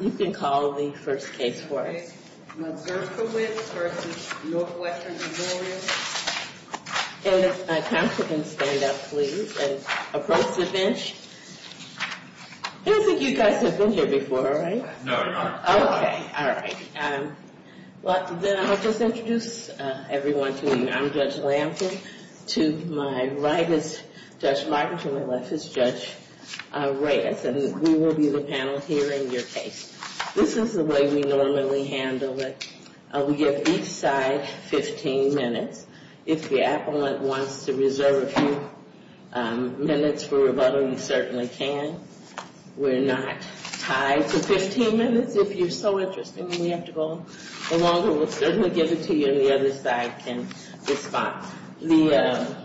You can call the first case for us. Ms. Mazurkiewicz versus Northwestern Memorial. And if my counsel can stand up, please, and approach the bench. I don't think you guys have been here before, right? No, we haven't. Okay, all right. Well, then I'll just introduce everyone to you. I'm Judge Lample. To my right is Judge Larkin. To my left is Judge Reyes. And we will be the panel here in your case. This is the way we normally handle it. We give each side 15 minutes. If the appellant wants to reserve a few minutes for rebuttal, he certainly can. We're not tied to 15 minutes. If you're so interested and we have to go along, we'll certainly give it to you. And the other side can respond. The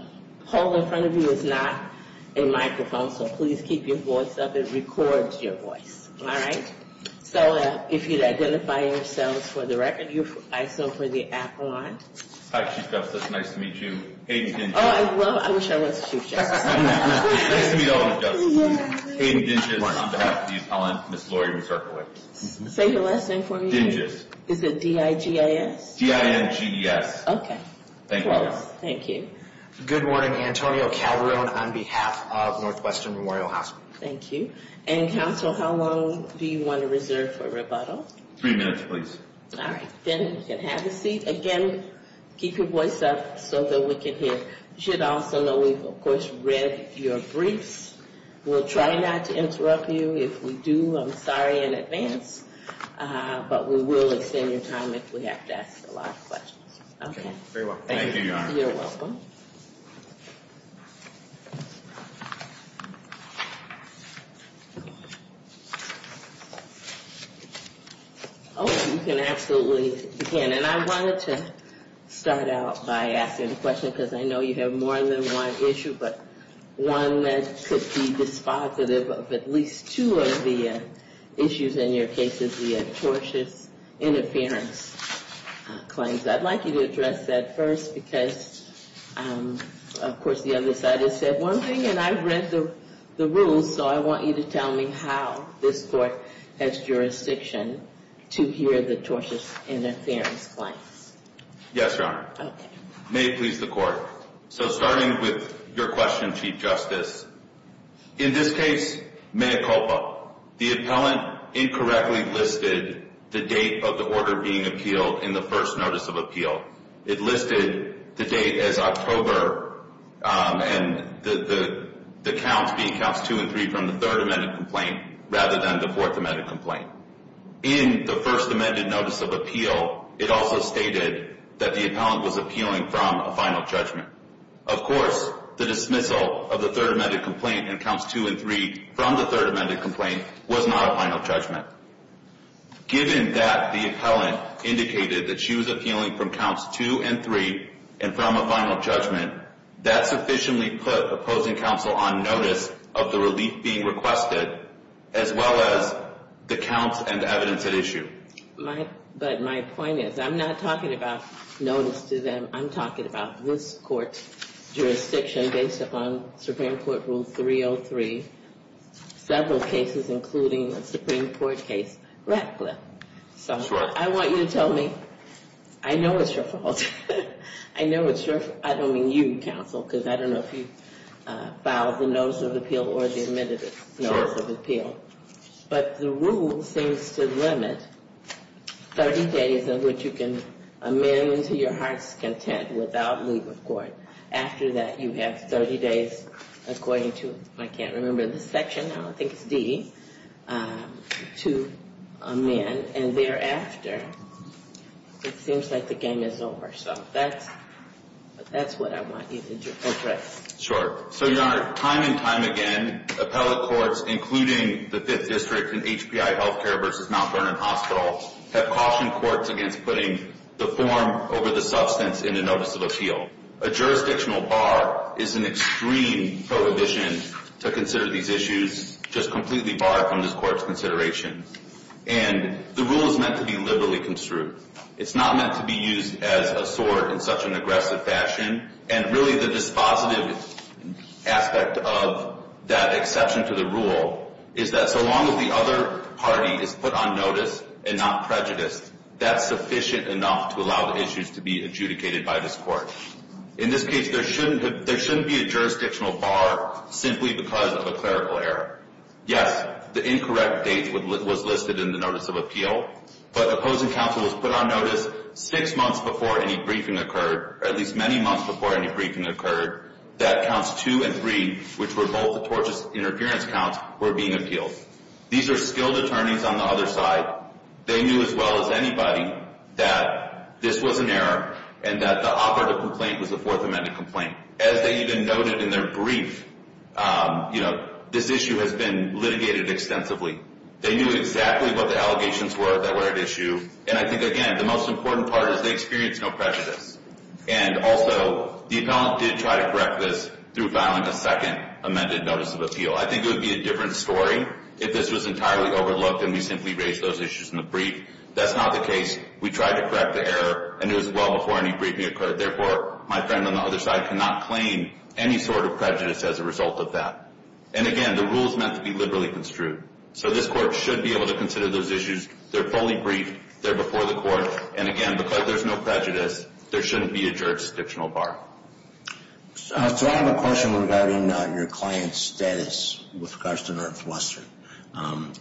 poll in front of you is not a microphone, so please keep your voice up. It records your voice. All right? So if you'd identify yourselves for the record. You're ISO for the appellant. Hi, Chief Justice. Nice to meet you. Hayden Dinges. Oh, well, I wish I was Chief Justice. Nice to meet all of you, Judge. Hayden Dinges on behalf of the appellant, Ms. Lori Mazurkiewicz. Say your last name for me. Dinges. Is it D-I-G-A-S? D-I-N-G-E-S. Okay. Thank you all. Thank you. Good morning. Antonio Calderon on behalf of Northwestern Memorial Hospital. Thank you. And, counsel, how long do you want to reserve for rebuttal? Three minutes, please. All right. Then you can have a seat. Again, keep your voice up so that we can hear. You should also know we've, of course, read your briefs. We'll try not to interrupt you. If we do, I'm sorry in advance. But we will extend your time if we have to ask a lot of questions. Okay. Very well. Thank you, Your Honor. You're welcome. Oh, you can absolutely begin. And I wanted to start out by asking a question because I know you have more than one issue, but one that could be dispositive of at least two of the issues in your cases, the tortious interference claims. I'd like you to address that first because, of course, the other side has said one thing, and I've read the rules, so I want you to tell me how this court has jurisdiction to hear the tortious interference claims. Yes, Your Honor. Okay. May it please the Court. So starting with your question, Chief Justice, in this case, Manicopa, the appellant incorrectly listed the date of the order being appealed in the first notice of appeal. It listed the date as October and the counts being counts two and three from the third amended complaint rather than the fourth amended complaint. In the first amended notice of appeal, it also stated that the appellant was appealing from a final judgment. Of course, the dismissal of the third amended complaint and counts two and three from the third amended complaint was not a final judgment. Given that the appellant indicated that she was appealing from counts two and three and from a final judgment, that sufficiently put opposing counsel on notice of the relief being requested as well as the counts and evidence at issue. But my point is, I'm not talking about notice to them. I'm talking about this court's jurisdiction based upon Supreme Court Rule 303, several cases including the Supreme Court case Ratcliffe. So I want you to tell me. I know it's your fault. I know it's your fault. I don't mean you, counsel, because I don't know if you filed the notice of appeal or the amended notice of appeal. But the rule seems to limit 30 days of which you can amend to your heart's content without leaving court. After that, you have 30 days according to, I can't remember the section now, I think it's D, to amend. And thereafter, it seems like the game is over. So that's what I want you to do. That's right. Sure. So, Your Honor, time and time again, appellate courts including the Fifth District and HPI Healthcare v. Mount Vernon Hospital have cautioned courts against putting the form over the substance in a notice of appeal. A jurisdictional bar is an extreme prohibition to consider these issues just completely barred from this court's consideration. And the rule is meant to be liberally construed. It's not meant to be used as a sword in such an aggressive fashion. And really the dispositive aspect of that exception to the rule is that so long as the other party is put on notice and not prejudiced, that's sufficient enough to allow the issues to be adjudicated by this court. In this case, there shouldn't be a jurisdictional bar simply because of a clerical error. Yes, the incorrect date was listed in the notice of appeal, but opposing counsel was put on notice six months before any briefing occurred, or at least many months before any briefing occurred, that counts two and three, which were both tortious interference counts, were being appealed. These are skilled attorneys on the other side. They knew as well as anybody that this was an error and that the operative complaint was a Fourth Amendment complaint. As they even noted in their brief, you know, this issue has been litigated extensively. They knew exactly what the allegations were that were at issue. And I think, again, the most important part is they experienced no prejudice. And also, the appellant did try to correct this through filing a second amended notice of appeal. I think it would be a different story if this was entirely overlooked and we simply raised those issues in the brief. That's not the case. We tried to correct the error, and it was well before any briefing occurred. Therefore, my friend on the other side cannot claim any sort of prejudice as a result of that. And, again, the rule is meant to be liberally construed. So this court should be able to consider those issues. They're fully briefed. They're before the court. And, again, because there's no prejudice, there shouldn't be a jurisdictional bar. So I have a question regarding your client's status with regards to Northwestern.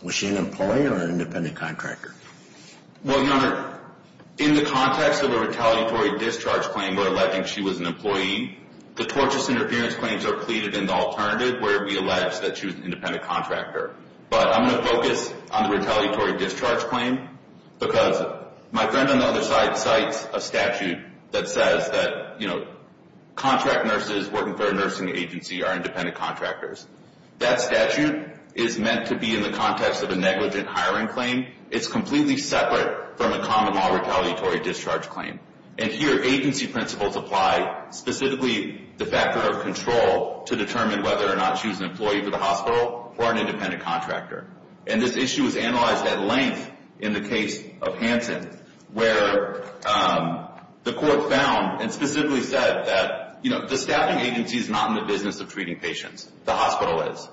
Was she an employee or an independent contractor? Well, Your Honor, in the context of a retaliatory discharge claim where alleging she was an employee, the tortious interference claims are pleaded in the alternative where we allege that she was an independent contractor. But I'm going to focus on the retaliatory discharge claim because my friend on the other side cites a statute that says that, you know, contract nurses working for a nursing agency are independent contractors. That statute is meant to be in the context of a negligent hiring claim. It's completely separate from a common law retaliatory discharge claim. And here agency principles apply, specifically the factor of control, to determine whether or not she was an employee for the hospital or an independent contractor. And this issue is analyzed at length in the case of Hanson where the court found and specifically said that, you know, the staffing agency is not in the business of treating patients. The hospital is.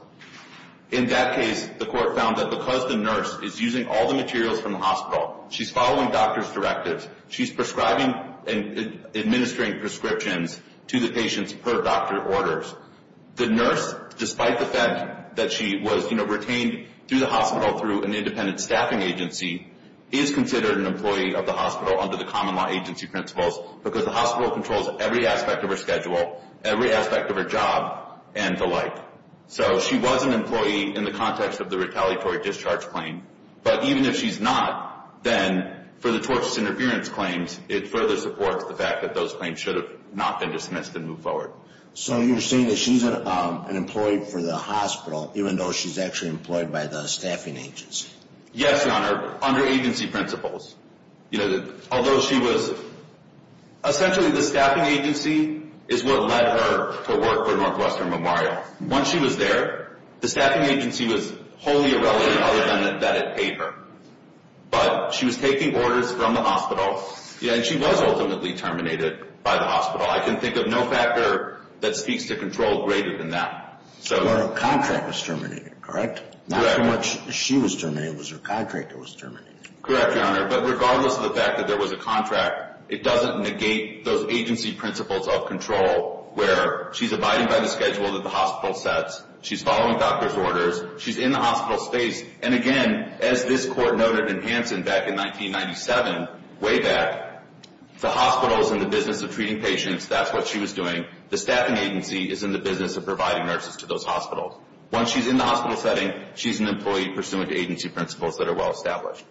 In that case, the court found that because the nurse is using all the materials from the hospital, she's following doctor's directives, she's prescribing and administering prescriptions to the patients per doctor orders. The nurse, despite the fact that she was, you know, retained through the hospital through an independent staffing agency, is considered an employee of the hospital under the common law agency principles because the hospital controls every aspect of her schedule, every aspect of her job, and the like. So she was an employee in the context of the retaliatory discharge claim. But even if she's not, then for the tortious interference claims, it further supports the fact that those claims should have not been dismissed and moved forward. So you're saying that she's an employee for the hospital, even though she's actually employed by the staffing agency? Yes, Your Honor, under agency principles. You know, although she was, essentially the staffing agency is what led her to work for Northwestern Memorial. Once she was there, the staffing agency was wholly irrelevant other than that it paid her. But she was taking orders from the hospital, and she was ultimately terminated by the hospital. I can think of no factor that speaks to control greater than that. So her contract was terminated, correct? Correct. Not so much she was terminated, it was her contract that was terminated. Correct, Your Honor, but regardless of the fact that there was a contract, it doesn't negate those agency principles of control where she's abiding by the schedule that the hospital sets, she's following doctor's orders, she's in the hospital space. And again, as this Court noted in Hansen back in 1997, way back, the hospital is in the business of treating patients, that's what she was doing. The staffing agency is in the business of providing nurses to those hospitals. Once she's in the hospital setting, she's an employee pursuant to agency principles that are well established.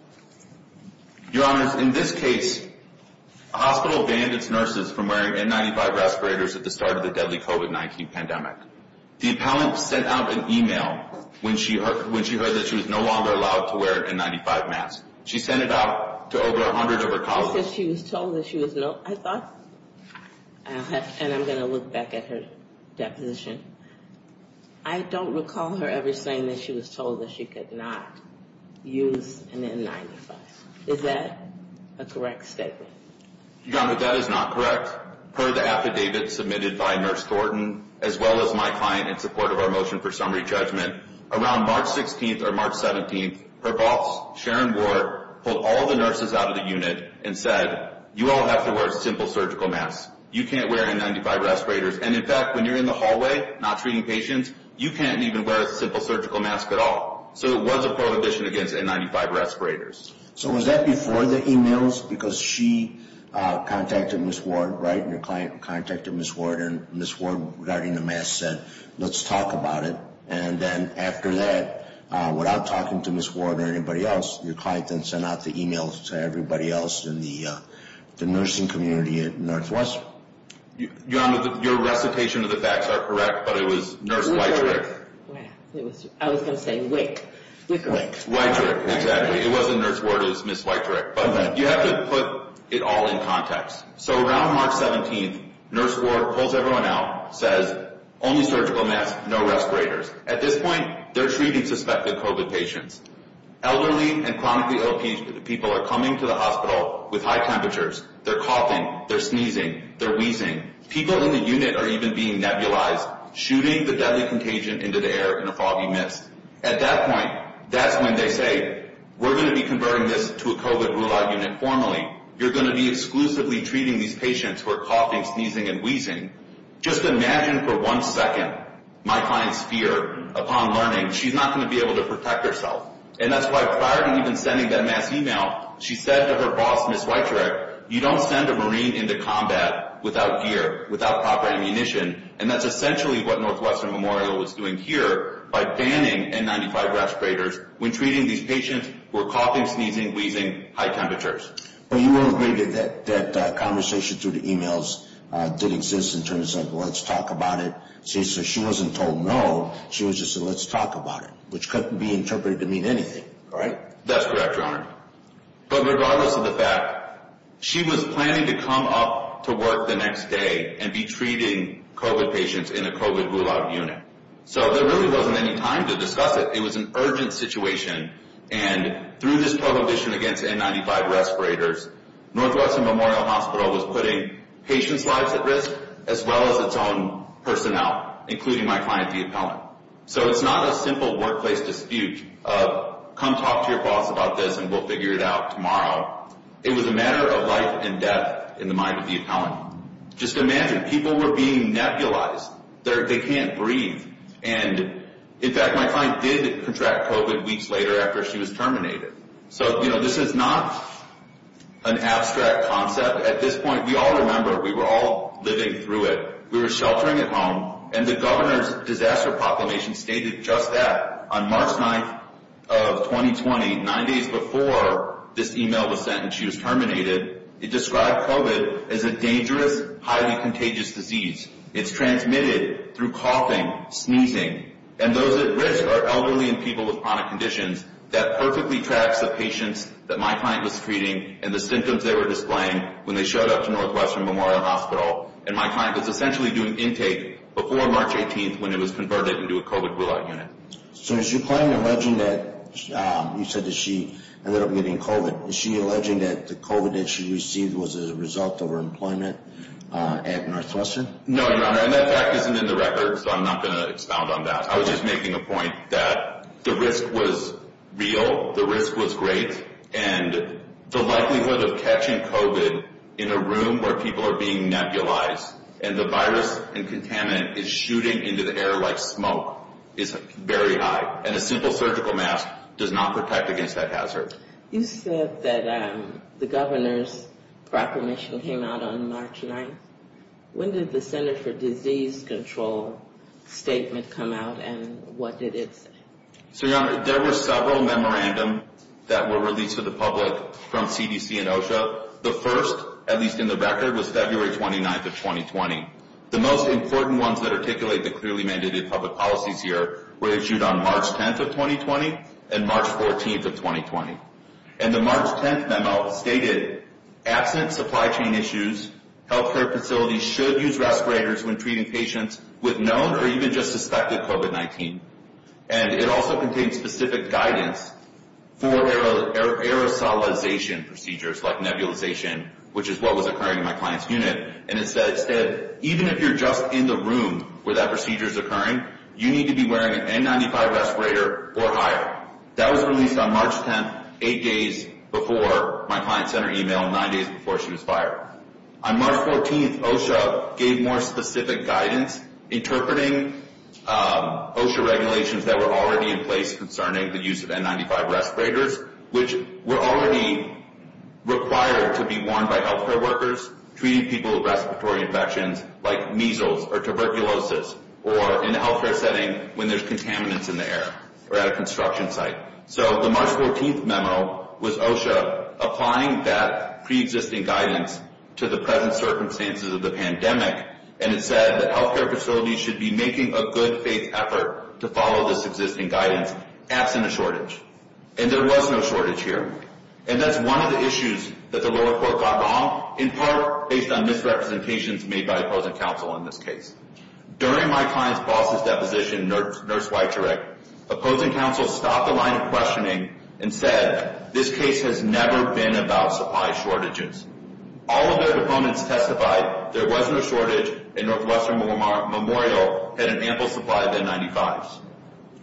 Your Honor, in this case, the hospital banned its nurses from wearing N95 respirators at the start of the deadly COVID-19 pandemic. The appellant sent out an e-mail when she heard that she was no longer allowed to wear an N95 mask. She sent it out to over 100 of her colleagues. She said she was told that she was no, I thought, and I'm going to look back at her deposition. I don't recall her ever saying that she was told that she could not use an N95. Is that a correct statement? Your Honor, that is not correct. Per the affidavit submitted by Nurse Thornton, as well as my client in support of our motion for summary judgment, around March 16th or March 17th, her boss, Sharon Warr, pulled all the nurses out of the unit and said, you all have to wear simple surgical masks. You can't wear N95 respirators. And, in fact, when you're in the hallway not treating patients, you can't even wear a simple surgical mask at all. So it was a prohibition against N95 respirators. So was that before the e-mails? Because she contacted Ms. Ward, right? Your client contacted Ms. Ward, and Ms. Ward, regarding the mask, said, let's talk about it. And then after that, without talking to Ms. Ward or anybody else, your client then sent out the e-mails to everybody else in the nursing community at Northwestern. Your Honor, your recitation of the facts are correct, but it was Nurse Weitrich. I was going to say Wick. Weitrich, exactly. It wasn't Nurse Ward, it was Ms. Weitrich. But you have to put it all in context. So around March 17th, Nurse Warr pulls everyone out, says, only surgical masks, no respirators. At this point, they're treating suspected COVID patients. Elderly and chronically ill people are coming to the hospital with high temperatures. They're coughing, they're sneezing, they're wheezing. People in the unit are even being nebulized, shooting the deadly contagion into the air in a foggy mist. At that point, that's when they say, we're going to be converting this to a COVID rule-out unit formally. You're going to be exclusively treating these patients who are coughing, sneezing, and wheezing. Just imagine for one second my client's fear upon learning she's not going to be able to protect herself. And that's why prior to even sending that mass email, she said to her boss, Ms. Weitrich, you don't send a Marine into combat without gear, without proper ammunition. And that's essentially what Northwestern Memorial was doing here by banning N95 respirators when treating these patients who are coughing, sneezing, wheezing, high temperatures. But you will agree that that conversation through the emails didn't exist in terms of let's talk about it. So she wasn't told no, she was just said let's talk about it, which couldn't be interpreted to mean anything, right? That's correct, Your Honor. But regardless of the fact, she was planning to come up to work the next day and be treating COVID patients in a COVID rule-out unit. So there really wasn't any time to discuss it. It was an urgent situation. And through this prohibition against N95 respirators, Northwestern Memorial Hospital was putting patients' lives at risk as well as its own personnel, including my client, the appellant. So it's not a simple workplace dispute of come talk to your boss about this and we'll figure it out tomorrow. It was a matter of life and death in the mind of the appellant. Just imagine people were being nebulized. They can't breathe. And in fact, my client did contract COVID weeks later after she was terminated. So, you know, this is not an abstract concept. At this point, we all remember, we were all living through it. We were sheltering at home and the governor's disaster proclamation stated just that. On March 9th of 2020, nine days before this email was sent and she was terminated, it described COVID as a dangerous, highly contagious disease. It's transmitted through coughing, sneezing. And those at risk are elderly and people with chronic conditions. That perfectly tracks the patients that my client was treating and the symptoms they were displaying when they showed up to Northwestern Memorial Hospital. And my client was essentially doing intake before March 18th when it was converted into a COVID rule-out unit. So is your client alleging that you said that she ended up getting COVID? Is she alleging that the COVID that she received was a result of her employment at Northwestern? No, Your Honor, and that fact isn't in the record, so I'm not going to expound on that. I was just making a point that the risk was real. The risk was great. And the likelihood of catching COVID in a room where people are being nebulized and the virus and contaminant is shooting into the air like smoke is very high. And a simple surgical mask does not protect against that hazard. You said that the governor's proclamation came out on March 9th. When did the Center for Disease Control statement come out and what did it say? So, Your Honor, there were several memorandums that were released to the public from CDC and OSHA. The first, at least in the record, was February 29th of 2020. The most important ones that articulate the clearly mandated public policies here were issued on March 10th of 2020 and March 14th of 2020. And the March 10th memo stated, absent supply chain issues, healthcare facilities should use respirators when treating patients with known or even just suspected COVID-19. And it also contained specific guidance for aerosolization procedures like nebulization, which is what was occurring in my client's unit. And it said, even if you're just in the room where that procedure is occurring, you need to be wearing an N95 respirator or higher. That was released on March 10th, eight days before my client sent her email, nine days before she was fired. On March 14th, OSHA gave more specific guidance interpreting OSHA regulations that were already in place concerning the use of N95 respirators, which were already required to be worn by healthcare workers treating people with respiratory infections like measles or tuberculosis, or in a healthcare setting when there's contaminants in the air or at a construction site. So the March 14th memo was OSHA applying that pre-existing guidance to the present circumstances of the pandemic. And it said that healthcare facilities should be making a good faith effort to follow this existing guidance, absent a shortage. And there was no shortage here. And that's one of the issues that the lower court got wrong, in part based on misrepresentations made by opposing counsel in this case. During my client's boss's deposition, Nurse Weichurich, opposing counsel stopped the line of questioning and said, this case has never been about supply shortages. All of their opponents testified there was no shortage, and Northwestern Memorial had an ample supply of N95s.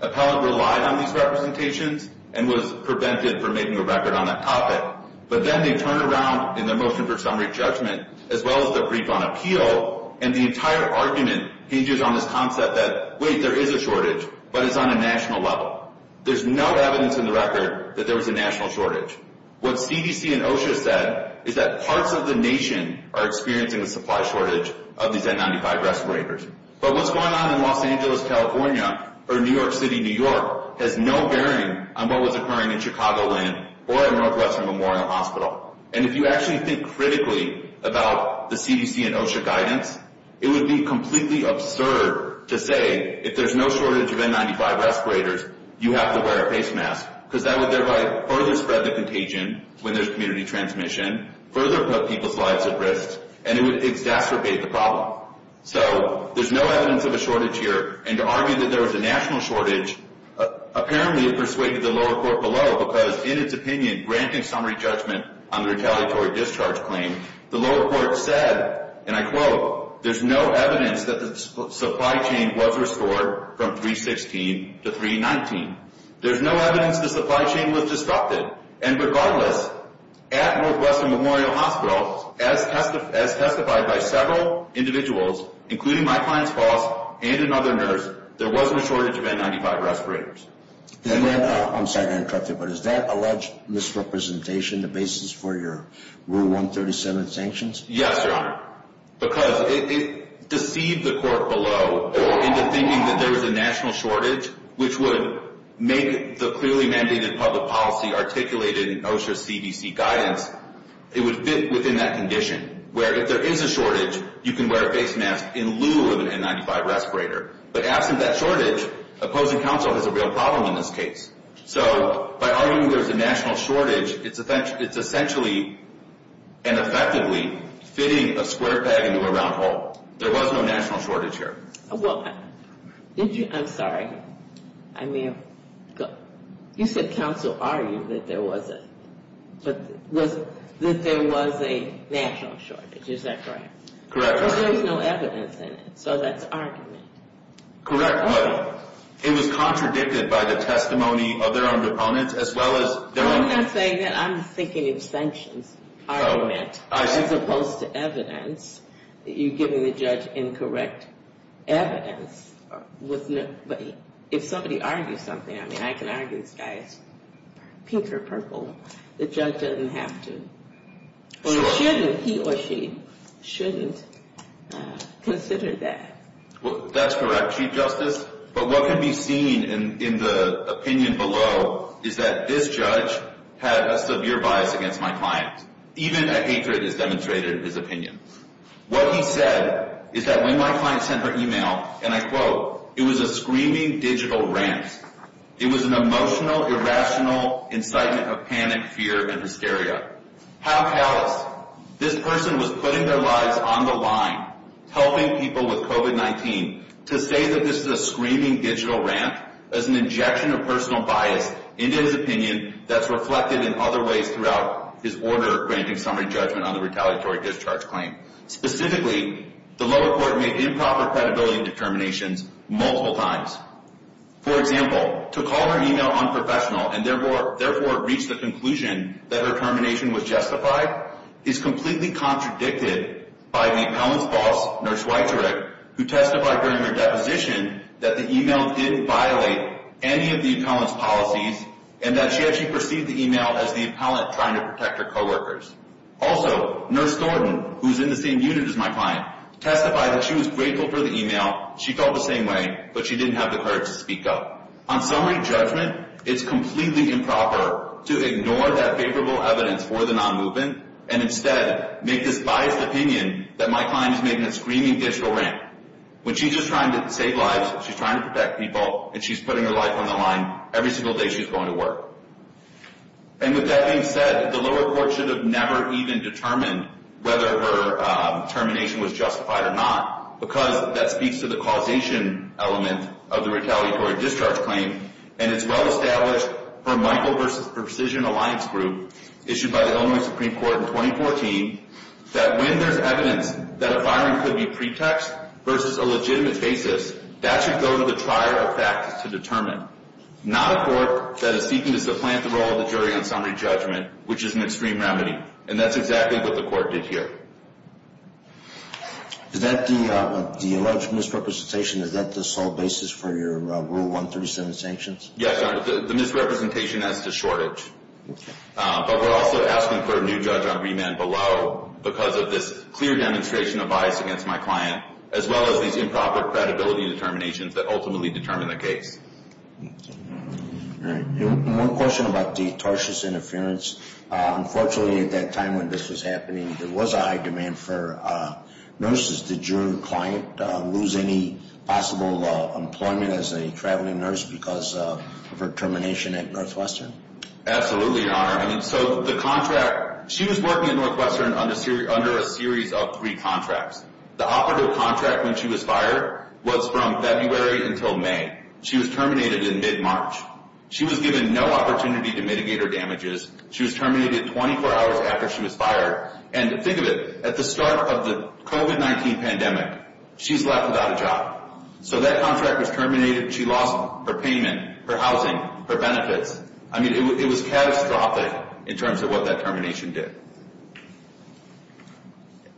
Appellant relied on these representations and was prevented from making a record on that topic. But then they turn around in their motion for summary judgment, as well as their brief on appeal, and the entire argument hinges on this concept that, wait, there is a shortage, but it's on a national level. There's no evidence in the record that there was a national shortage. What CDC and OSHA said is that parts of the nation are experiencing a supply shortage of these N95 respirators. But what's going on in Los Angeles, California, or New York City, New York, has no bearing on what was occurring in Chicagoland or at Northwestern Memorial Hospital. And if you actually think critically about the CDC and OSHA guidance, it would be completely absurd to say, if there's no shortage of N95 respirators, you have to wear a face mask, because that would thereby further spread the contagion when there's community transmission, further put people's lives at risk, and it would exacerbate the problem. So there's no evidence of a shortage here. And to argue that there was a national shortage, apparently it persuaded the lower court below, because in its opinion, granting summary judgment on the retaliatory discharge claim, the lower court said, and I quote, there's no evidence that the supply chain was restored from 316 to 319. There's no evidence the supply chain was disrupted. And regardless, at Northwestern Memorial Hospital, as testified by several individuals, including my client's boss and another nurse, there wasn't a shortage of N95 respirators. I'm sorry to interrupt you, but is that alleged misrepresentation the basis for your Rule 137 sanctions? Yes, Your Honor. Because it deceived the court below into thinking that there was a national shortage, which would make the clearly mandated public policy articulated in OSHA's CDC guidance, it would fit within that condition, where if there is a shortage, you can wear a face mask in lieu of an N95 respirator. But absent that shortage, opposing counsel has a real problem in this case. So by arguing there's a national shortage, it's essentially and effectively fitting a square peg into a round hole. There was no national shortage here. Well, did you – I'm sorry. I may have – you said counsel argued that there was a – that there was a national shortage. Is that correct? Correct. Because there was no evidence in it. So that's argument. Correct. But it was contradicted by the testimony of their own opponents, as well as their own – I'm not saying that. I'm thinking of sanctions argument. Oh, I see. As opposed to evidence, you're giving the judge incorrect evidence. But if somebody argues something – I mean, I can argue this guy is pink or purple. The judge doesn't have to. Or he shouldn't – he or she shouldn't consider that. Well, that's correct, Chief Justice. But what can be seen in the opinion below is that this judge had a severe bias against my client. Even a hatred is demonstrated in his opinion. What he said is that when my client sent her email, and I quote, it was a screaming digital rant. It was an emotional, irrational incitement of panic, fear, and hysteria. How callous. This person was putting their lives on the line, helping people with COVID-19, to say that this is a screaming digital rant as an injection of personal bias into his opinion that's reflected in other ways throughout his order granting summary judgment on the retaliatory discharge claim. Specifically, the lower court made improper credibility determinations multiple times. For example, to call her email unprofessional and therefore reach the conclusion that her termination was justified is completely contradicted by the appellant's boss, Nurse Weitzerich, who testified during her deposition that the email didn't violate any of the appellant's policies and that she actually perceived the email as the appellant trying to protect her coworkers. Also, Nurse Thornton, who's in the same unit as my client, testified that she was grateful for the email, she felt the same way, but she didn't have the courage to speak up. On summary judgment, it's completely improper to ignore that favorable evidence for the non-movement and instead make this biased opinion that my client is making a screaming digital rant. When she's just trying to save lives, she's trying to protect people, and she's putting her life on the line every single day she's going to work. And with that being said, the lower court should have never even determined whether her termination was justified or not, because that speaks to the causation element of the retaliatory discharge claim, and it's well established from Michael v. Precision Alliance Group, issued by the Illinois Supreme Court in 2014, that when there's evidence that a firing could be pretext versus a legitimate basis, that should go to the trier of facts to determine. Not a court that is seeking to supplant the role of the jury on summary judgment, which is an extreme remedy, and that's exactly what the court did here. Is that the alleged misrepresentation? Is that the sole basis for your Rule 137 sanctions? Yes, the misrepresentation as to shortage. But we're also asking for a new judge on remand below, because of this clear demonstration of bias against my client, as well as these improper credibility determinations that ultimately determine the case. All right. One question about the tortious interference. Unfortunately, at that time when this was happening, there was a high demand for nurses. Did your client lose any possible employment as a traveling nurse because of her termination at Northwestern? Absolutely, Your Honor. I mean, so the contract, she was working at Northwestern under a series of three contracts. The operative contract when she was fired was from February until May. She was terminated in mid-March. She was given no opportunity to mitigate her damages. She was terminated 24 hours after she was fired. And think of it, at the start of the COVID-19 pandemic, she's left without a job. So that contract was terminated. She lost her payment, her housing, her benefits. I mean, it was catastrophic in terms of what that termination did.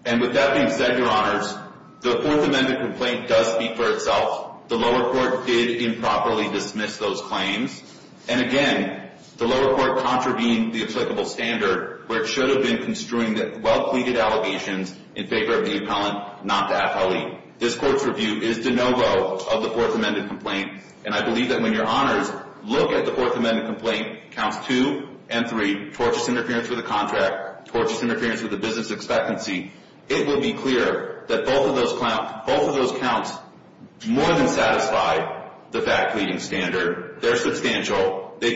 And with that being said, Your Honors, the Fourth Amendment complaint does speak for itself. The lower court did improperly dismiss those claims. And again, the lower court contravened the applicable standard where it should have been construing the well-pleaded allegations in favor of the appellant, not the appellee. This Court's review is de novo of the Fourth Amendment complaint. And I believe that when Your Honors look at the Fourth Amendment complaint, counts 2 and 3, tortious interference with a contract, tortious interference with a business expectancy, it will be clear that both of those counts more than satisfy the fact-pleading standard. They're substantial. They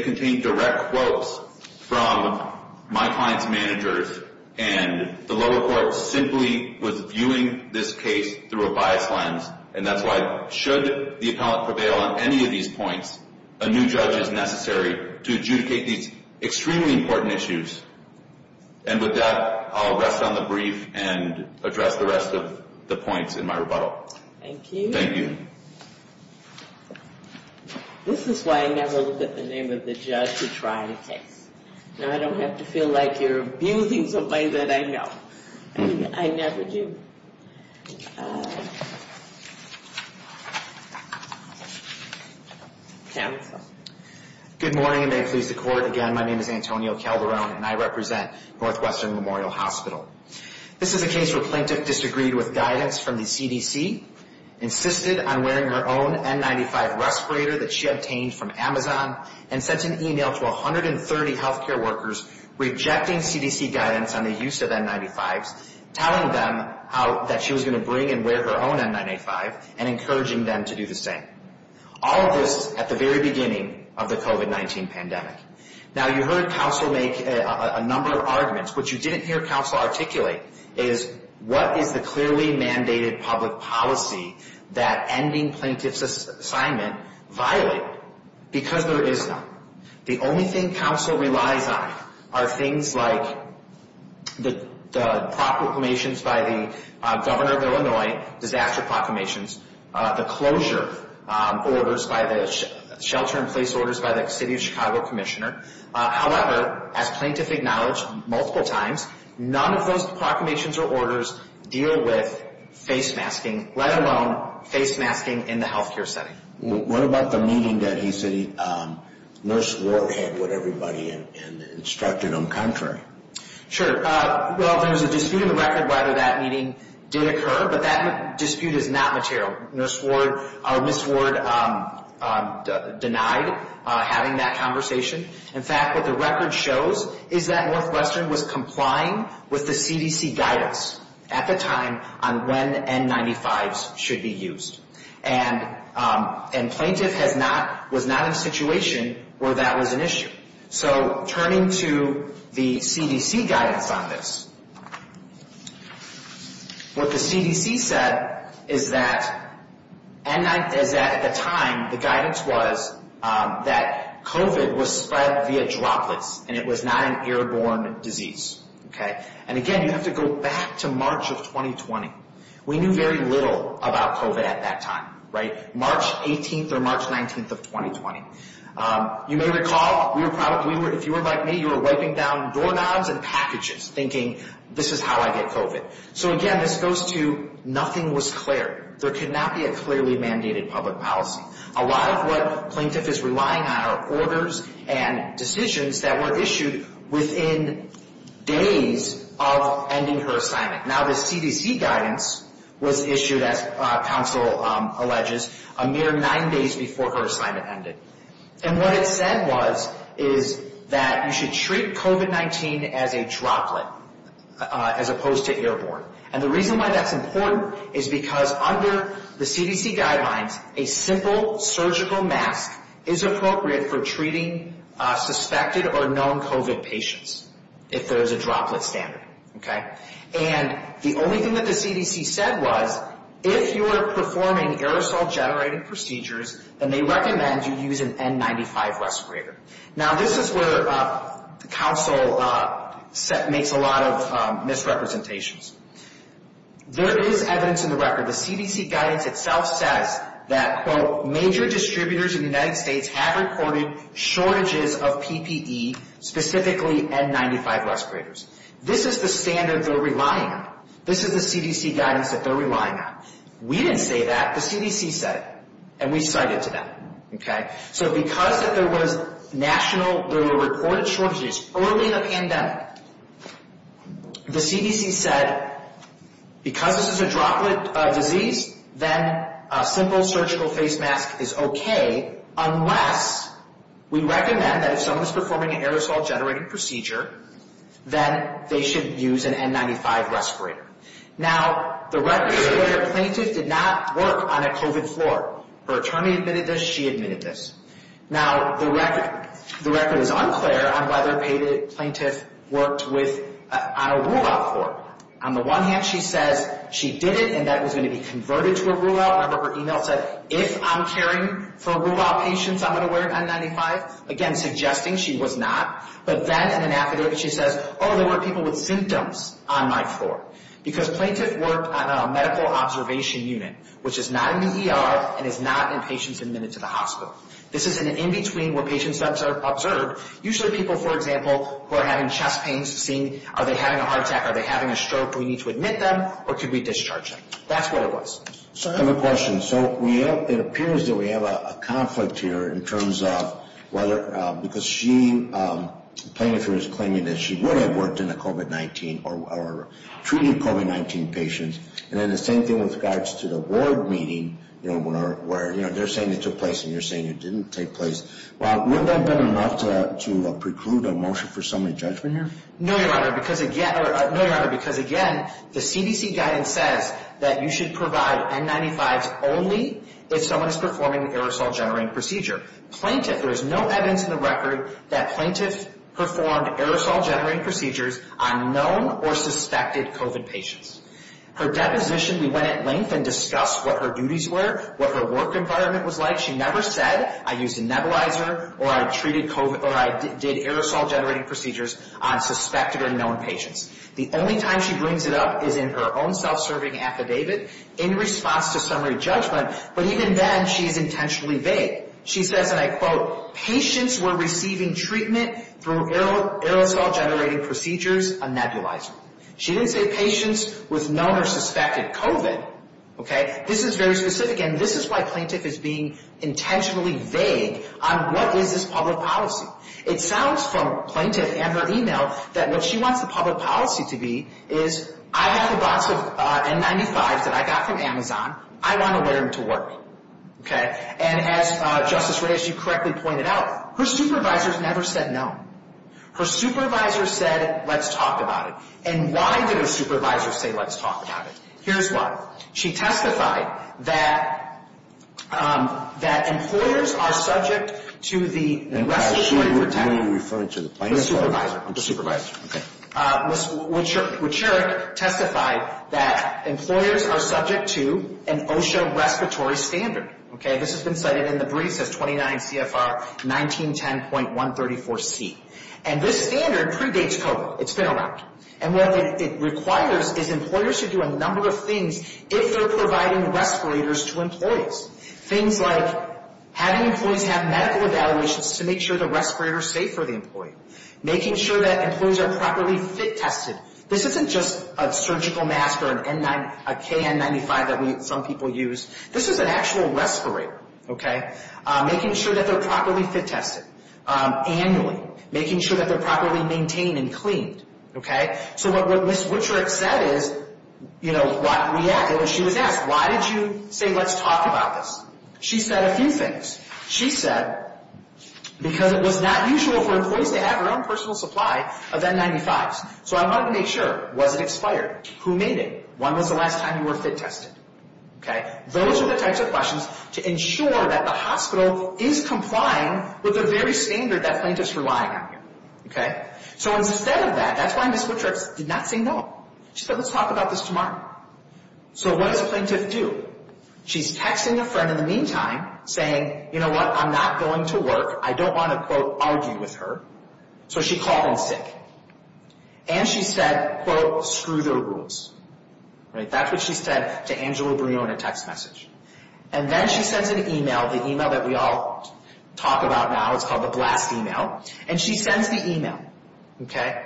contain direct quotes from my client's managers. And the lower court simply was viewing this case through a biased lens. And that's why, should the appellant prevail on any of these points, a new judge is necessary to adjudicate these extremely important issues. And with that, I'll rest on the brief and address the rest of the points in my rebuttal. Thank you. Thank you. This is why I never look at the name of the judge to try a case. Now, I don't have to feel like you're abusing somebody that I know. I never do. Good morning, and may it please the Court. Again, my name is Antonio Calderon, and I represent Northwestern Memorial Hospital. This is a case where a plaintiff disagreed with guidance from the CDC, insisted on wearing her own N95 respirator that she obtained from Amazon, and sent an email to 130 healthcare workers rejecting CDC guidance on the use of N95s, telling them that she was going to bring and wear her own N95, and encouraging them to do the same. All of this at the very beginning of the COVID-19 pandemic. Now, you heard counsel make a number of arguments. What you didn't hear counsel articulate is what is the clearly mandated public policy that ending plaintiff's assignment violate because there is none. The only thing counsel relies on are things like the proclamations by the governor of Illinois, disaster proclamations, the closure orders by the shelter-in-place orders by the city of Chicago commissioner. However, as plaintiff acknowledged multiple times, none of those proclamations or orders deal with face masking, let alone face masking in the healthcare setting. What about the meeting that he said Nurse Ward had with everybody and instructed them contrary? Sure. Well, there was a dispute in the record whether that meeting did occur, but that dispute is not material. Nurse Ward or Miss Ward denied having that conversation. In fact, what the record shows is that Northwestern was complying with the CDC guidance at the time on when N95s should be used. And plaintiff was not in a situation where that was an issue. So turning to the CDC guidance on this, what the CDC said is that at the time, the guidance was that COVID was spread via droplets and it was not an airborne disease. And again, you have to go back to March of 2020. We knew very little about COVID at that time, March 18th or March 19th of 2020. You may recall, if you were like me, you were wiping down doorknobs and packages thinking this is how I get COVID. So again, this goes to nothing was clear. There could not be a clearly mandated public policy. A lot of what plaintiff is relying on are orders and decisions that were issued within days of ending her assignment. Now, the CDC guidance was issued, as counsel alleges, a mere nine days before her assignment ended. And what it said was is that you should treat COVID-19 as a droplet as opposed to airborne. And the reason why that's important is because under the CDC guidelines, a simple surgical mask is appropriate for treating suspected or known COVID patients if there is a droplet standard. And the only thing that the CDC said was if you are performing aerosol-generated procedures, then they recommend you use an N95 respirator. Now, this is where counsel makes a lot of misrepresentations. There is evidence in the record, the CDC guidance itself says that, quote, major distributors in the United States have reported shortages of PPE, specifically N95 respirators. This is the standard they're relying on. This is the CDC guidance that they're relying on. We didn't say that. The CDC said it. And we cited to that. So because there was national, there were reported shortages early in the pandemic, the CDC said because this is a droplet disease, then a simple surgical face mask is okay, unless we recommend that if someone is performing an aerosol-generated procedure, then they should use an N95 respirator. Now, the respirator plaintiff did not work on a COVID floor. Her attorney admitted this. She admitted this. Now, the record is unclear on whether the plaintiff worked on a rule-out floor. On the one hand, she says she did it, and that was going to be converted to a rule-out. Remember her email said, if I'm caring for rule-out patients, I'm going to wear an N95, again suggesting she was not. But then in an affidavit, she says, oh, there were people with symptoms on my floor. Because plaintiff worked on a medical observation unit, which is not in the ER and is not in patients admitted to the hospital. This is an in-between where patients are observed. Usually people, for example, who are having chest pains, seeing are they having a heart attack, are they having a stroke, do we need to admit them, or could we discharge them. That's what it was. I have a question. So it appears that we have a conflict here in terms of whether, because she, the plaintiff is claiming that she would have worked in a COVID-19 or treated COVID-19 patients. And then the same thing with regards to the ward meeting, where they're saying it took place and you're saying it didn't take place. Would that have been enough to preclude a motion for summary judgment here? No, Your Honor, because again, the CDC guidance says that you should provide N95s only if someone is performing an aerosol-generating procedure. Plaintiff, there is no evidence in the record that plaintiff performed aerosol-generating procedures on known or suspected COVID patients. Her deposition, we went at length and discussed what her duties were, what her work environment was like. She never said, I used a nebulizer or I treated COVID or I did aerosol-generating procedures on suspected or known patients. The only time she brings it up is in her own self-serving affidavit in response to summary judgment. But even then, she's intentionally vague. She says, and I quote, patients were receiving treatment through aerosol-generating procedures, a nebulizer. She didn't say patients with known or suspected COVID. This is very specific and this is why plaintiff is being intentionally vague on what is this public policy. It sounds from plaintiff and her email that what she wants the public policy to be is I have a box of N95s that I got from Amazon. I want to wear them to work. Okay. And as Justice Reyes, you correctly pointed out, her supervisors never said no. Her supervisor said, let's talk about it. And why did her supervisor say let's talk about it? Here's why. She testified that employers are subject to the respiratory protection of the supervisor. Ms. Wojcicki testified that employers are subject to an OSHA respiratory standard. Okay. This has been cited in the briefs as 29 CFR 1910.134C. And this standard predates COVID. It's been around. And what it requires is employers to do a number of things if they're providing respirators to employees. Things like having employees have medical evaluations to make sure the respirators are safe for the employee. Making sure that employees are properly fit tested. This isn't just a surgical mask or a KN95 that some people use. This is an actual respirator. Making sure that they're properly fit tested annually. Making sure that they're properly maintained and cleaned. Okay. So what Ms. Wojcicki said is, you know, she was asked, why did you say let's talk about this? She said a few things. She said because it was not usual for employees to have their own personal supply of N95s. So I wanted to make sure, was it expired? Who made it? When was the last time you were fit tested? Okay. Those are the types of questions to ensure that the hospital is complying with the very standard that plaintiff's relying on. Okay. So instead of that, that's why Ms. Wojcicki did not say no. She said let's talk about this tomorrow. So what does a plaintiff do? She's texting a friend in the meantime, saying, you know what, I'm not going to work. I don't want to, quote, argue with her. So she called in sick. And she said, quote, screw the rules. Right. That's what she said to Angela Brion in a text message. And then she sends an email, the email that we all talk about now. It's called the blast email. And she sends the email. Okay.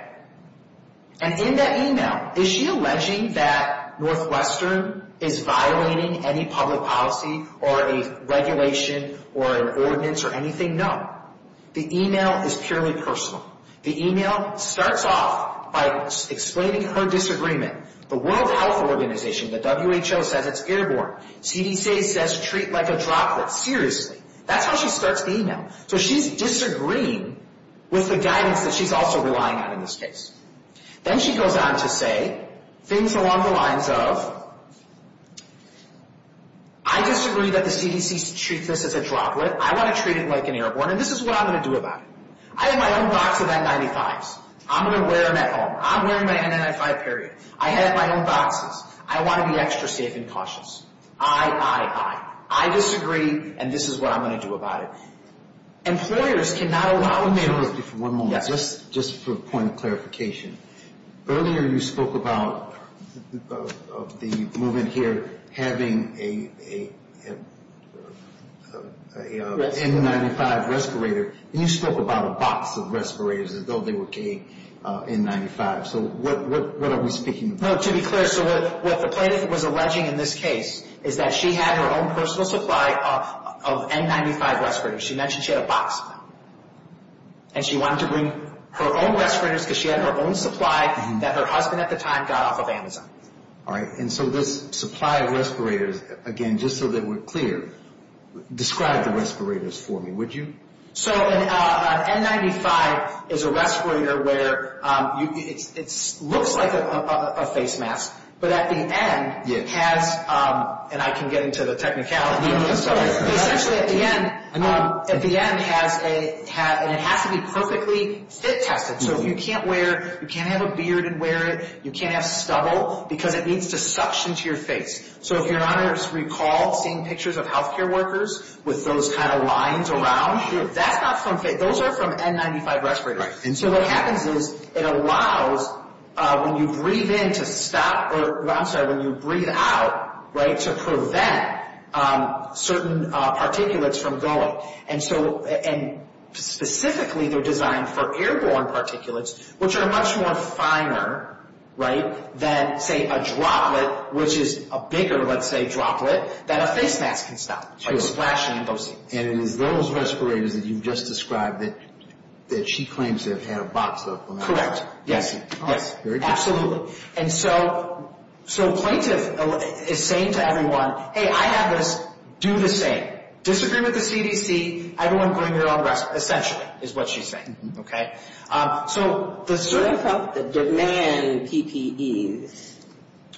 And in that email, is she alleging that Northwestern is violating any public policy or a regulation or an ordinance or anything? No. The email is purely personal. The email starts off by explaining her disagreement. The World Health Organization, the WHO says it's airborne. CDC says treat like a droplet. Seriously. That's how she starts the email. So she's disagreeing with the guidance that she's also relying on in this case. Then she goes on to say things along the lines of, I disagree that the CDC treats this as a droplet. I want to treat it like an airborne. And this is what I'm going to do about it. I have my own box of N95s. I'm going to wear them at home. I'm wearing my N95, period. I have my own boxes. I want to be extra safe and cautious. I, I, I. I disagree, and this is what I'm going to do about it. Employers cannot allow mail. Excuse me for one moment. Yes. Just for a point of clarification. Earlier you spoke about the movement here having a N95 respirator. You spoke about a box of respirators as though they were K N95s. So what are we speaking about? No, to be clear, so what the plaintiff was alleging in this case is that she had her own personal supply of N95 respirators. She mentioned she had a box of them. And she wanted to bring her own respirators because she had her own supply that her husband at the time got off of Amazon. All right. And so this supply of respirators, again, just so that we're clear, describe the respirators for me, would you? So an N95 is a respirator where it looks like a face mask, but at the end has, and I can get into the technicalities of this, but essentially at the end, at the end has a, and it has to be perfectly fit tested. So if you can't wear, you can't have a beard and wear it, you can't have stubble because it needs to suction to your face. So if your honors recall seeing pictures of healthcare workers with those kind of lines around, that's not from, those are from N95 respirators. And so what happens is it allows when you breathe in to stop, or I'm sorry, when you breathe out, right, to prevent certain particulates from going. And so, and specifically they're designed for airborne particulates, which are much more finer, right, than say a droplet, which is a bigger, let's say, droplet that a face mask can stop, right, splashing in those things. And it is those respirators that you've just described that she claims to have had a box of. Correct. Yes. All right. Very good. And so, so plaintiff is saying to everyone, hey, I have this, do the same. Disagree with the CDC, everyone bring their own respirator, essentially is what she's saying. The demand PPEs.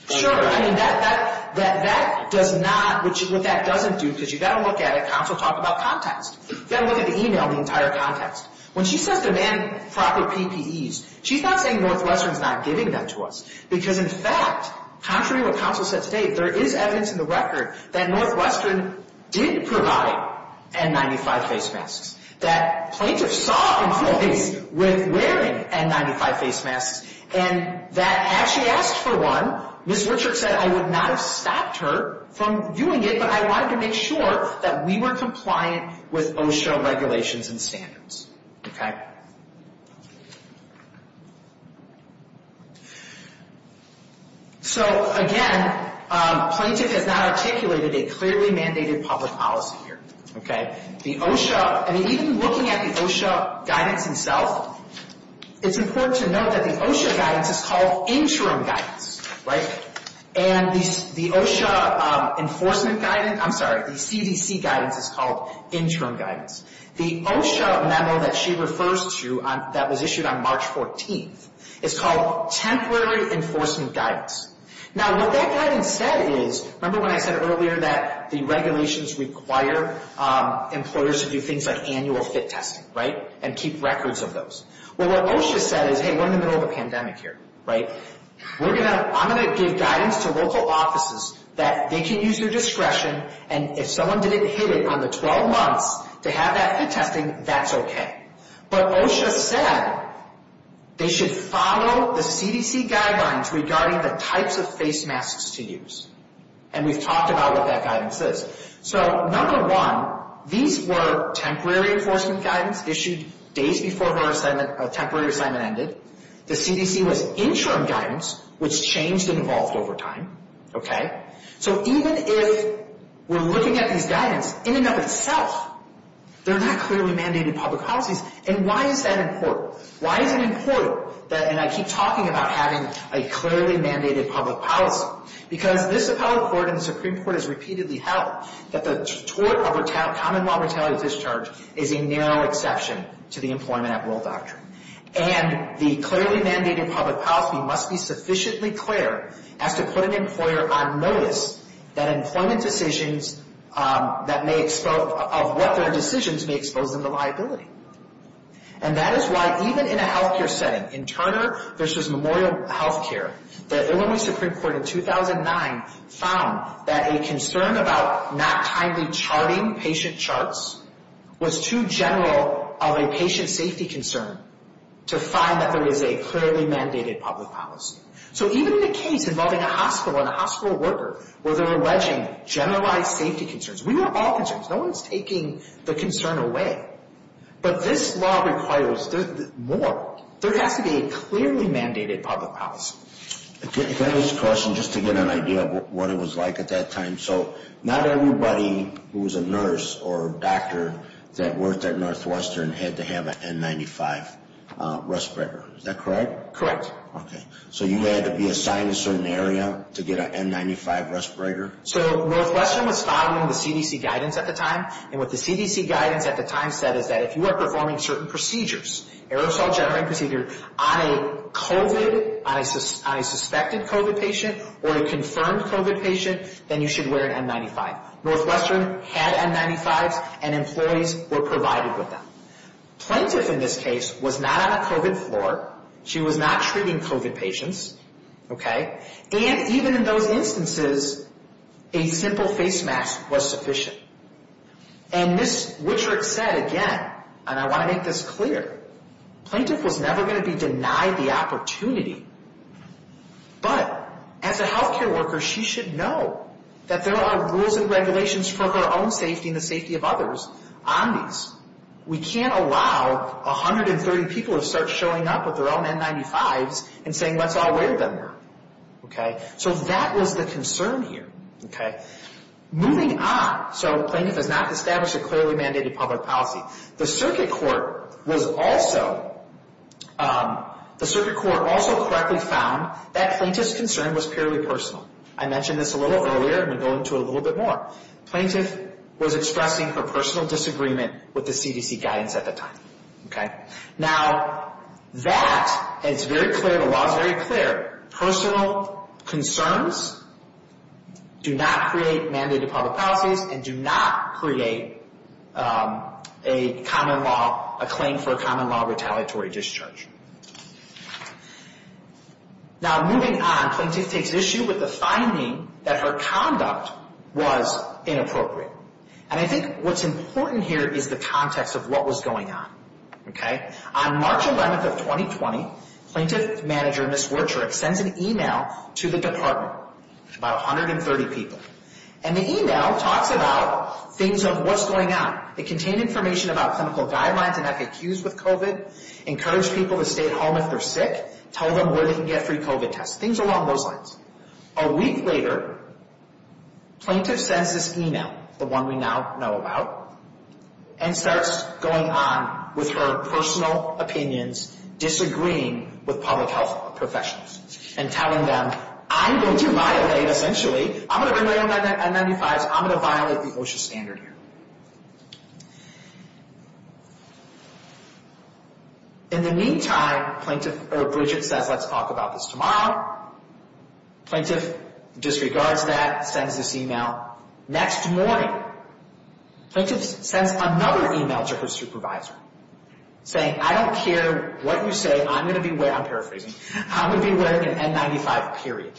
Sure, I mean that, that does not, what that doesn't do, because you've got to look at it, counsel talk about context. You've got to look at the email, the entire context. When she says demand proper PPEs, she's not saying Northwestern's not giving them to us. Because, in fact, contrary to what counsel said today, there is evidence in the record that Northwestern did provide N95 face masks. That plaintiff saw employees with wearing N95 face masks, and that as she asked for one, Ms. Richard said, I would not have stopped her from doing it, but I wanted to make sure that we were compliant with OSHA regulations and standards. Okay? So, again, plaintiff has not articulated a clearly mandated public policy here. Okay? The OSHA, I mean, even looking at the OSHA guidance itself, it's important to note that the OSHA guidance is called interim guidance. Right? And the OSHA enforcement guidance, I'm sorry, the CDC guidance is called interim guidance. The OSHA memo that she refers to that was issued on March 14th is called temporary enforcement guidance. Now, what that guidance said is, remember when I said earlier that the regulations require employers to do things like annual fit testing, right, and keep records of those? Well, what OSHA said is, hey, we're in the middle of a pandemic here. Right? We're going to, I'm going to give guidance to local offices that they can use their discretion, and if someone didn't hit it on the 12 months to have that fit testing, that's okay. But OSHA said they should follow the CDC guidelines regarding the types of face masks to use. And we've talked about what that guidance is. So, number one, these were temporary enforcement guidance issued days before her assignment, temporary assignment ended. The CDC was interim guidance, which changed and evolved over time. Okay? So even if we're looking at these guidance in and of itself, they're not clearly mandated public policies. And why is that important? Why is it important that, and I keep talking about having a clearly mandated public policy. Because this appellate court and the Supreme Court has repeatedly held that the tort of common law retaliatory discharge is a narrow exception to the employment at will doctrine. And the clearly mandated public policy must be sufficiently clear as to put an employer on notice that employment decisions that may, of what their decisions may expose them to liability. And that is why even in a healthcare setting, in Turner versus Memorial Healthcare, the Illinois Supreme Court in 2009 found that a concern about not timely charting patient charts was too general of a patient safety concern to find that there is a clearly mandated public policy. So even in a case involving a hospital and a hospital worker where they were wedging generalized safety concerns. We were all concerned. No one's taking the concern away. But this law requires more. There has to be a clearly mandated public policy. Can I ask a question just to get an idea of what it was like at that time? So not everybody who was a nurse or a doctor that worked at Northwestern had to have an N95 respirator. Is that correct? Correct. Okay. So you had to be assigned a certain area to get an N95 respirator? So Northwestern was following the CDC guidance at the time. And what the CDC guidance at the time said is that if you are performing certain procedures, aerosol generating procedures, on a COVID, on a suspected COVID patient or a confirmed COVID patient, then you should wear an N95. Northwestern had N95s and employees were provided with them. Plaintiff in this case was not on a COVID floor. She was not treating COVID patients. Okay. And even in those instances, a simple face mask was sufficient. And Ms. Wichert said again, and I want to make this clear, plaintiff was never going to be denied the opportunity. But as a healthcare worker, she should know that there are rules and regulations for her own safety and the safety of others on these. We can't allow 130 people to start showing up with their own N95s and saying let's all wear them. Okay. So that was the concern here. Okay. Moving on. So plaintiff has not established a clearly mandated public policy. The circuit court was also, the circuit court also correctly found that plaintiff's concern was purely personal. I mentioned this a little earlier and we'll go into it a little bit more. Plaintiff was expressing her personal disagreement with the CDC guidance at the time. Now that, and it's very clear, the law is very clear, personal concerns do not create mandated public policies and do not create a common law, a claim for a common law retaliatory discharge. Now moving on, plaintiff takes issue with the finding that her conduct was inappropriate. And I think what's important here is the context of what was going on. Okay. On March 11th of 2020, plaintiff manager Ms. Wichert sends an email to the department, about 130 people. And the email talks about things of what's going on. It contained information about clinical guidelines and FAQs with COVID, encourage people to stay at home if they're sick, tell them where they can get free COVID tests, things along those lines. A week later, plaintiff sends this email, the one we now know about, and starts going on with her personal opinions, disagreeing with public health professionals, and telling them, I'm going to violate, essentially, I'm going to bring my own N95s. I'm going to violate the OSHA standard here. In the meantime, plaintiff, or Wichert says, let's talk about this tomorrow. Plaintiff disregards that, sends this email. Next morning, plaintiff sends another email to her supervisor, saying, I don't care what you say. I'm going to be wearing, I'm paraphrasing, I'm going to be wearing an N95, period.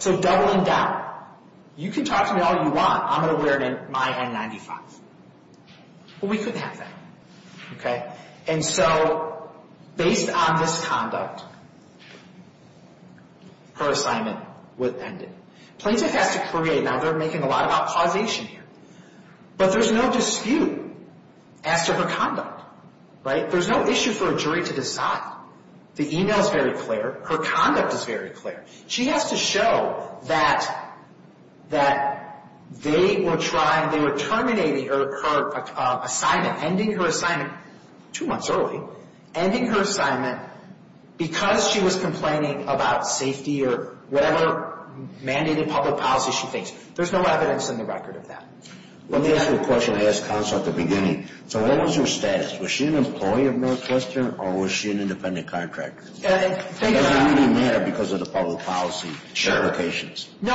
So doubling down. You can talk to me all you want. I'm going to wear my N95. Well, we couldn't have that. And so, based on this conduct, her assignment was ended. Plaintiff has to create, now they're making a lot about causation here, but there's no dispute as to her conduct. Right? There's no issue for a jury to decide. The email is very clear. Her conduct is very clear. She has to show that they were trying, they were terminating her assignment, ending her assignment, two months early, ending her assignment because she was complaining about safety or whatever mandated public policy she thinks. There's no evidence in the record of that. Let me ask you a question I asked counsel at the beginning. So what was her status? Was she an employee of Northwestern or was she an independent contractor? Does it really matter because of the public policy implications? No.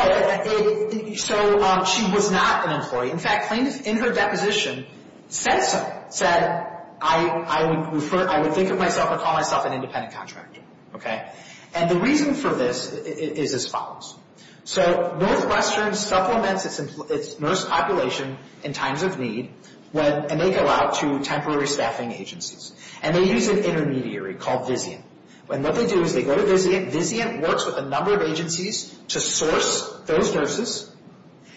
So she was not an employee. In fact, plaintiff, in her deposition, said something. Said, I would think of myself and call myself an independent contractor. Okay? And the reason for this is as follows. So Northwestern supplements its nurse population in times of need and they go out to temporary staffing agencies. And they use an intermediary called Vizient. And what they do is they go to Vizient. Vizient works with a number of agencies to source those nurses.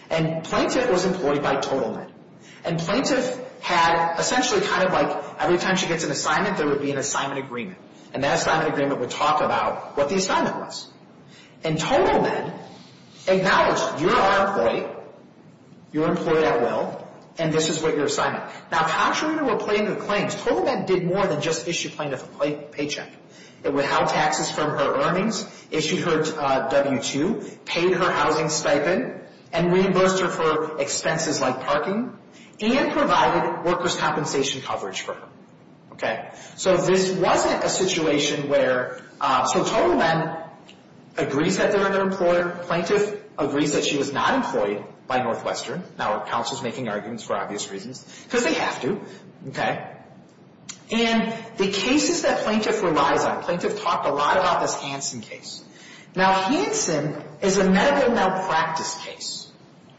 And plaintiff was employed by TotalMed. And plaintiff had essentially kind of like every time she gets an assignment, there would be an assignment agreement. And that assignment agreement would talk about what the assignment was. And TotalMed acknowledged, you're our employee, you're employed at will, and this is what your assignment. Now contrary to what plaintiff claims, TotalMed did more than just issue plaintiff a paycheck. It would halve taxes from her earnings, issued her W-2, paid her housing stipend, and reimbursed her for expenses like parking, and provided workers' compensation coverage for her. Okay? So this wasn't a situation where, so TotalMed agrees that they're an employer. Plaintiff agrees that she was not employed by Northwestern. Now our counsel's making arguments for obvious reasons. Because they have to. Okay? And the cases that plaintiff relies on, plaintiff talked a lot about this Hansen case. Now Hansen is a medical malpractice case.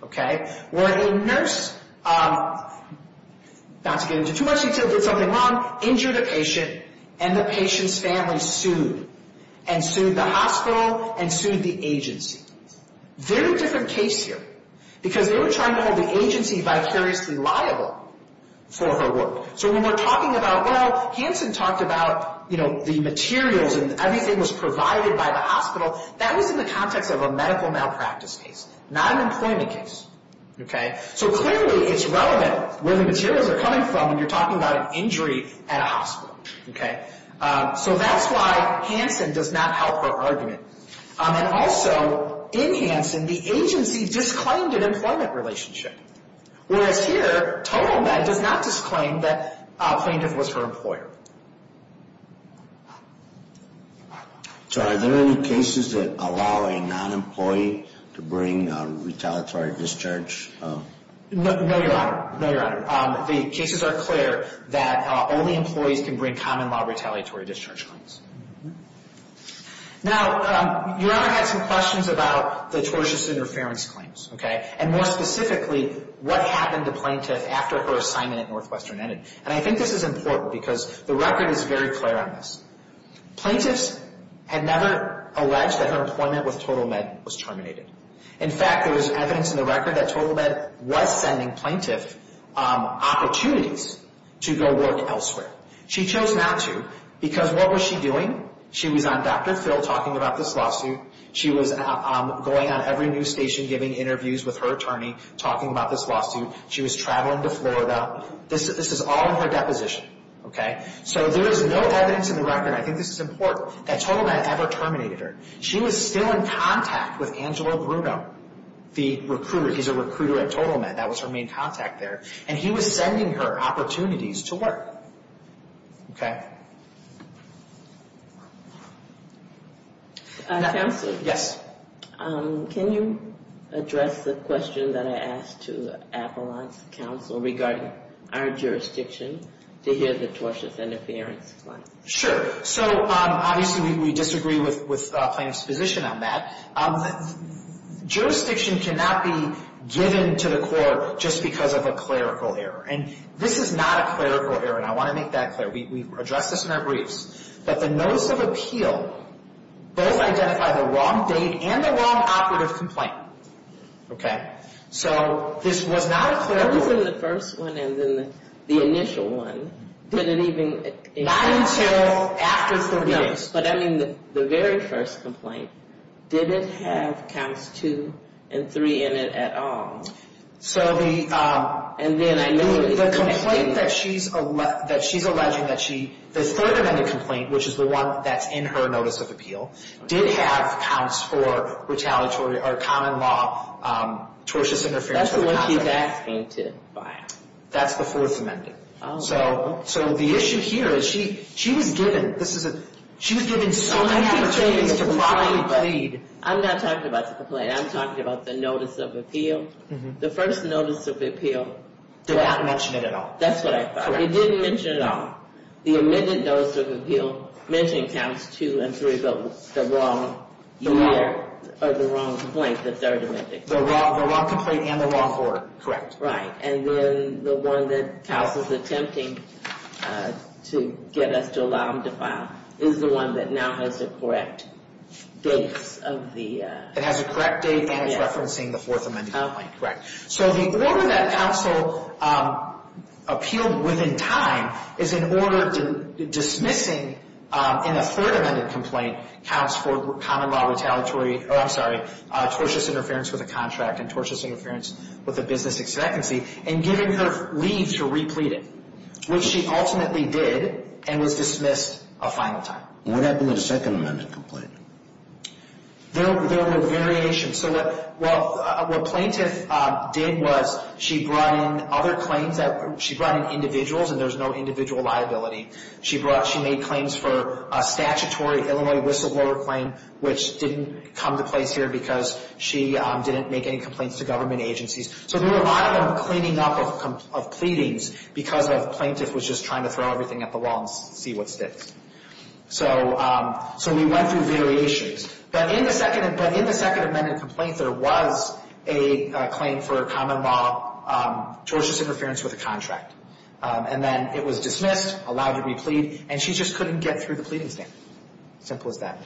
Okay? Where a nurse, not to get into too much detail, did something wrong, injured a patient, and the patient's family sued, and sued the hospital, and sued the agency. Very different case here. Because they were trying to hold the agency vicariously liable for her work. So when we're talking about, well, Hansen talked about, you know, the materials and everything was provided by the hospital. That was in the context of a medical malpractice case. Not an employment case. Okay? So clearly it's relevant where the materials are coming from when you're talking about an injury at a hospital. Okay? So that's why Hansen does not help her argument. And also, in Hansen, the agency disclaimed an employment relationship. Whereas here, TotalMed does not disclaim that plaintiff was her employer. So are there any cases that allow a non-employee to bring retaliatory discharge? No, Your Honor. No, Your Honor. The cases are clear that only employees can bring common law retaliatory discharge claims. Now, Your Honor had some questions about the tortious interference claims. Okay? And more specifically, what happened to plaintiff after her assignment at Northwestern ended? And I think this is important because the record is very clear on this. Plaintiffs had never alleged that her employment with TotalMed was terminated. In fact, there was evidence in the record that TotalMed was sending plaintiff opportunities to go work elsewhere. She chose not to because what was she doing? She was on Dr. Phil talking about this lawsuit. She was going on every news station giving interviews with her attorney talking about this lawsuit. She was traveling to Florida. This is all in her deposition. So there is no evidence in the record, and I think this is important, that TotalMed ever terminated her. She was still in contact with Angelo Bruno, the recruiter. He's a recruiter at TotalMed. That was her main contact there. And he was sending her opportunities to work. Okay? Counselor? Yes. Can you address the question that I asked to Avalon's counsel regarding our jurisdiction to hear the tortious interference claim? Sure. So obviously we disagree with plaintiff's position on that. Jurisdiction cannot be given to the court just because of a clerical error. And this is not a clerical error, and I want to make that clear. We addressed this in our briefs, that the notice of appeal both identified the wrong date and the wrong operative complaint. Okay? So this was not a clerical error. I was in the first one and then the initial one. Did it even – Not until after the meeting. No, but I mean the very first complaint. Did it have counts two and three in it at all? So the – And then I know – So the complaint that she's alleging that she – the third amendment complaint, which is the one that's in her notice of appeal, did have counts for retaliatory or common law tortious interference. That's the one she was asked me to file. That's the fourth amendment. Oh. So the issue here is she was given – this is a – she was given so many opportunities to probably plead. I'm not talking about the complaint. I'm talking about the notice of appeal. The first notice of appeal – Did not mention it at all. That's what I thought. Correct. It didn't mention it at all. The amended notice of appeal mentioned counts two and three, but the wrong year – Or the wrong complaint, the third amendment. The wrong complaint and the wrong court. Correct. Right. And then the one that counsel's attempting to get us to allow them to file is the one that now has the correct dates of the – Correct. So the order that counsel appealed within time is in order to dismissing in a third amendment complaint counts for common law retaliatory – oh, I'm sorry, tortious interference with a contract and tortious interference with a business expectancy and giving her leave to replete it, which she ultimately did and was dismissed a final time. What happened with the second amendment complaint? There were variations. So what plaintiff did was she brought in other claims. She brought in individuals, and there's no individual liability. She made claims for a statutory Illinois whistleblower claim, which didn't come to place here because she didn't make any complaints to government agencies. So there were a lot of them cleaning up of pleadings because the plaintiff was just trying to throw everything at the wall and see what sticks. So we went through variations. But in the second amendment complaint, there was a claim for a common law tortious interference with a contract. And then it was dismissed, allowed to replete, and she just couldn't get through the pleading stand. Simple as that.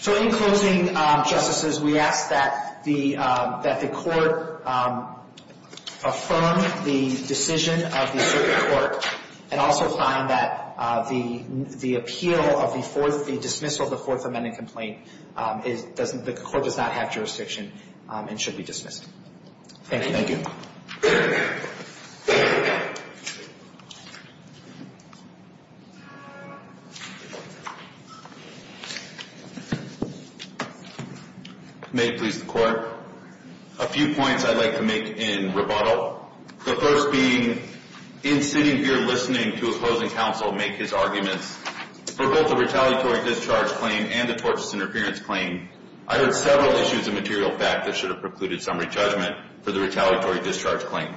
So in closing, justices, we ask that the court affirm the decision of the circuit court and also find that the appeal of the dismissal of the fourth amendment complaint, the court does not have jurisdiction and should be dismissed. Thank you. May it please the Court. A few points I'd like to make in rebuttal. The first being, in sitting here listening to a closing counsel make his arguments for both the retaliatory discharge claim and the tortious interference claim, I heard several issues of material fact that should have precluded summary judgment for the retaliatory discharge claim.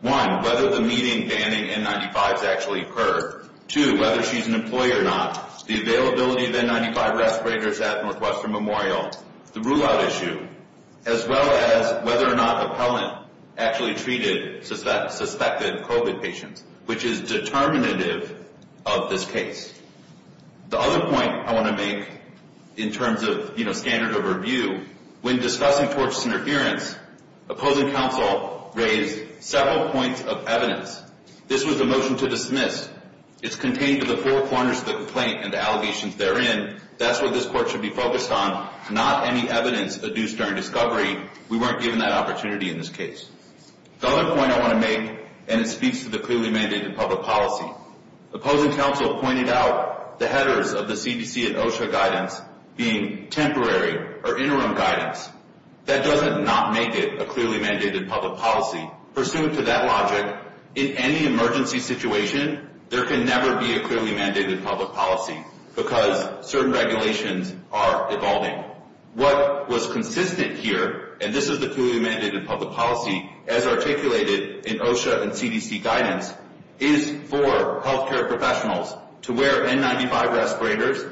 One, whether the meeting banning N95s actually occurred. Two, whether she's an employee or not, the availability of N95 respirators at Northwestern Memorial, the rule-out issue, as well as whether or not the appellant actually treated suspected COVID patients, which is determinative of this case. The other point I want to make in terms of standard of review, when discussing tortious interference, opposing counsel raised several points of evidence. This was a motion to dismiss. It's contained in the four corners of the complaint and the allegations therein. That's what this Court should be focused on, not any evidence adduced during discovery. We weren't given that opportunity in this case. The other point I want to make, and it speaks to the clearly mandated public policy, opposing counsel pointed out the headers of the CDC and OSHA guidance being temporary or interim guidance. That doesn't not make it a clearly mandated public policy. Pursuant to that logic, in any emergency situation, there can never be a clearly mandated public policy because certain regulations are evolving. What was consistent here, and this is the clearly mandated public policy, as articulated in OSHA and CDC guidance, is for health care professionals to wear N95 respirators,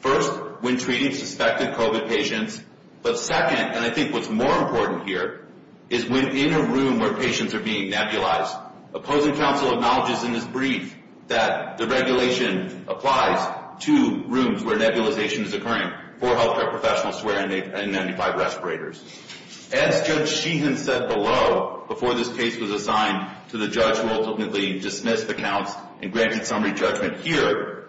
first, when treating suspected COVID patients, but second, and I think what's more important here, is when in a room where patients are being nebulized. Opposing counsel acknowledges in this brief that the regulation applies to rooms where nebulization is occurring for health care professionals to wear N95 respirators. As Judge Sheehan said below, before this case was assigned to the judge who ultimately dismissed the counts and granted summary judgment here,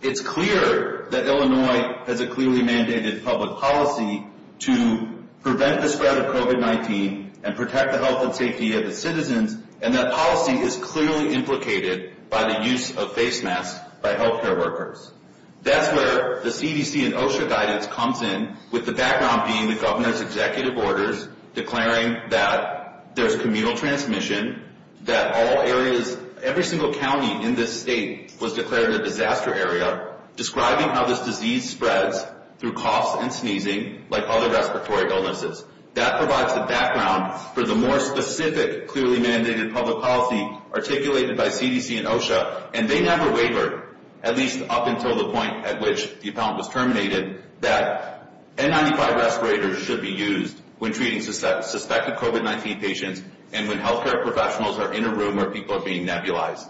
it's clear that Illinois has a clearly mandated public policy to prevent the spread of COVID-19 and protect the health and safety of its citizens, and that policy is clearly implicated by the use of face masks by health care workers. That's where the CDC and OSHA guidance comes in, with the background being the governor's executive orders declaring that there's communal transmission, that all areas, every single county in this state was declared a disaster area, describing how this disease spreads through coughs and sneezing, like other respiratory illnesses. That provides the background for the more specific, clearly mandated public policy articulated by CDC and OSHA, and they never wavered, at least up until the point at which the appellant was terminated, that N95 respirators should be used when treating suspected COVID-19 patients and when health care professionals are in a room where people are being nebulized.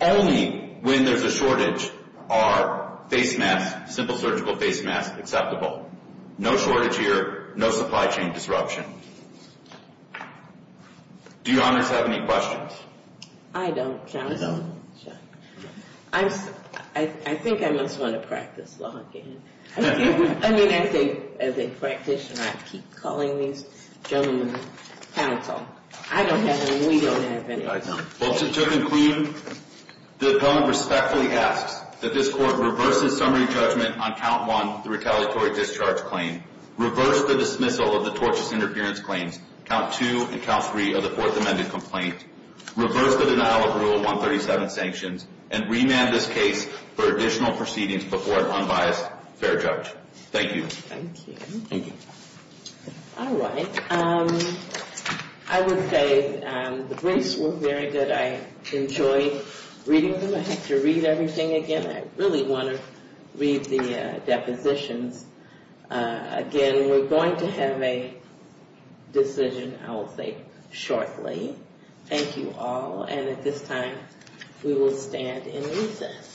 Only when there's a shortage are face masks, simple surgical face masks, acceptable. No shortage here, no supply chain disruption. Do you honors have any questions? I don't, counsel. I think I must want to practice law again. I mean, as a practitioner, I keep calling these gentlemen counsel. I don't have any, we don't have any. Well, to conclude, the appellant respectfully asks that this court reverse its summary judgment on count one, the retaliatory discharge claim, reverse the dismissal of the tortious interference claims, count two and count three of the Fourth Amendment complaint, reverse the denial of Rule 137 sanctions, and remand this case for additional proceedings before an unbiased, fair judge. Thank you. Thank you. Thank you. All right. I would say the briefs were very good. I enjoyed reading them. I have to read everything again. I really want to read the depositions. Again, we're going to have a decision, I will say, shortly. Thank you all. And at this time, we will stand in recess.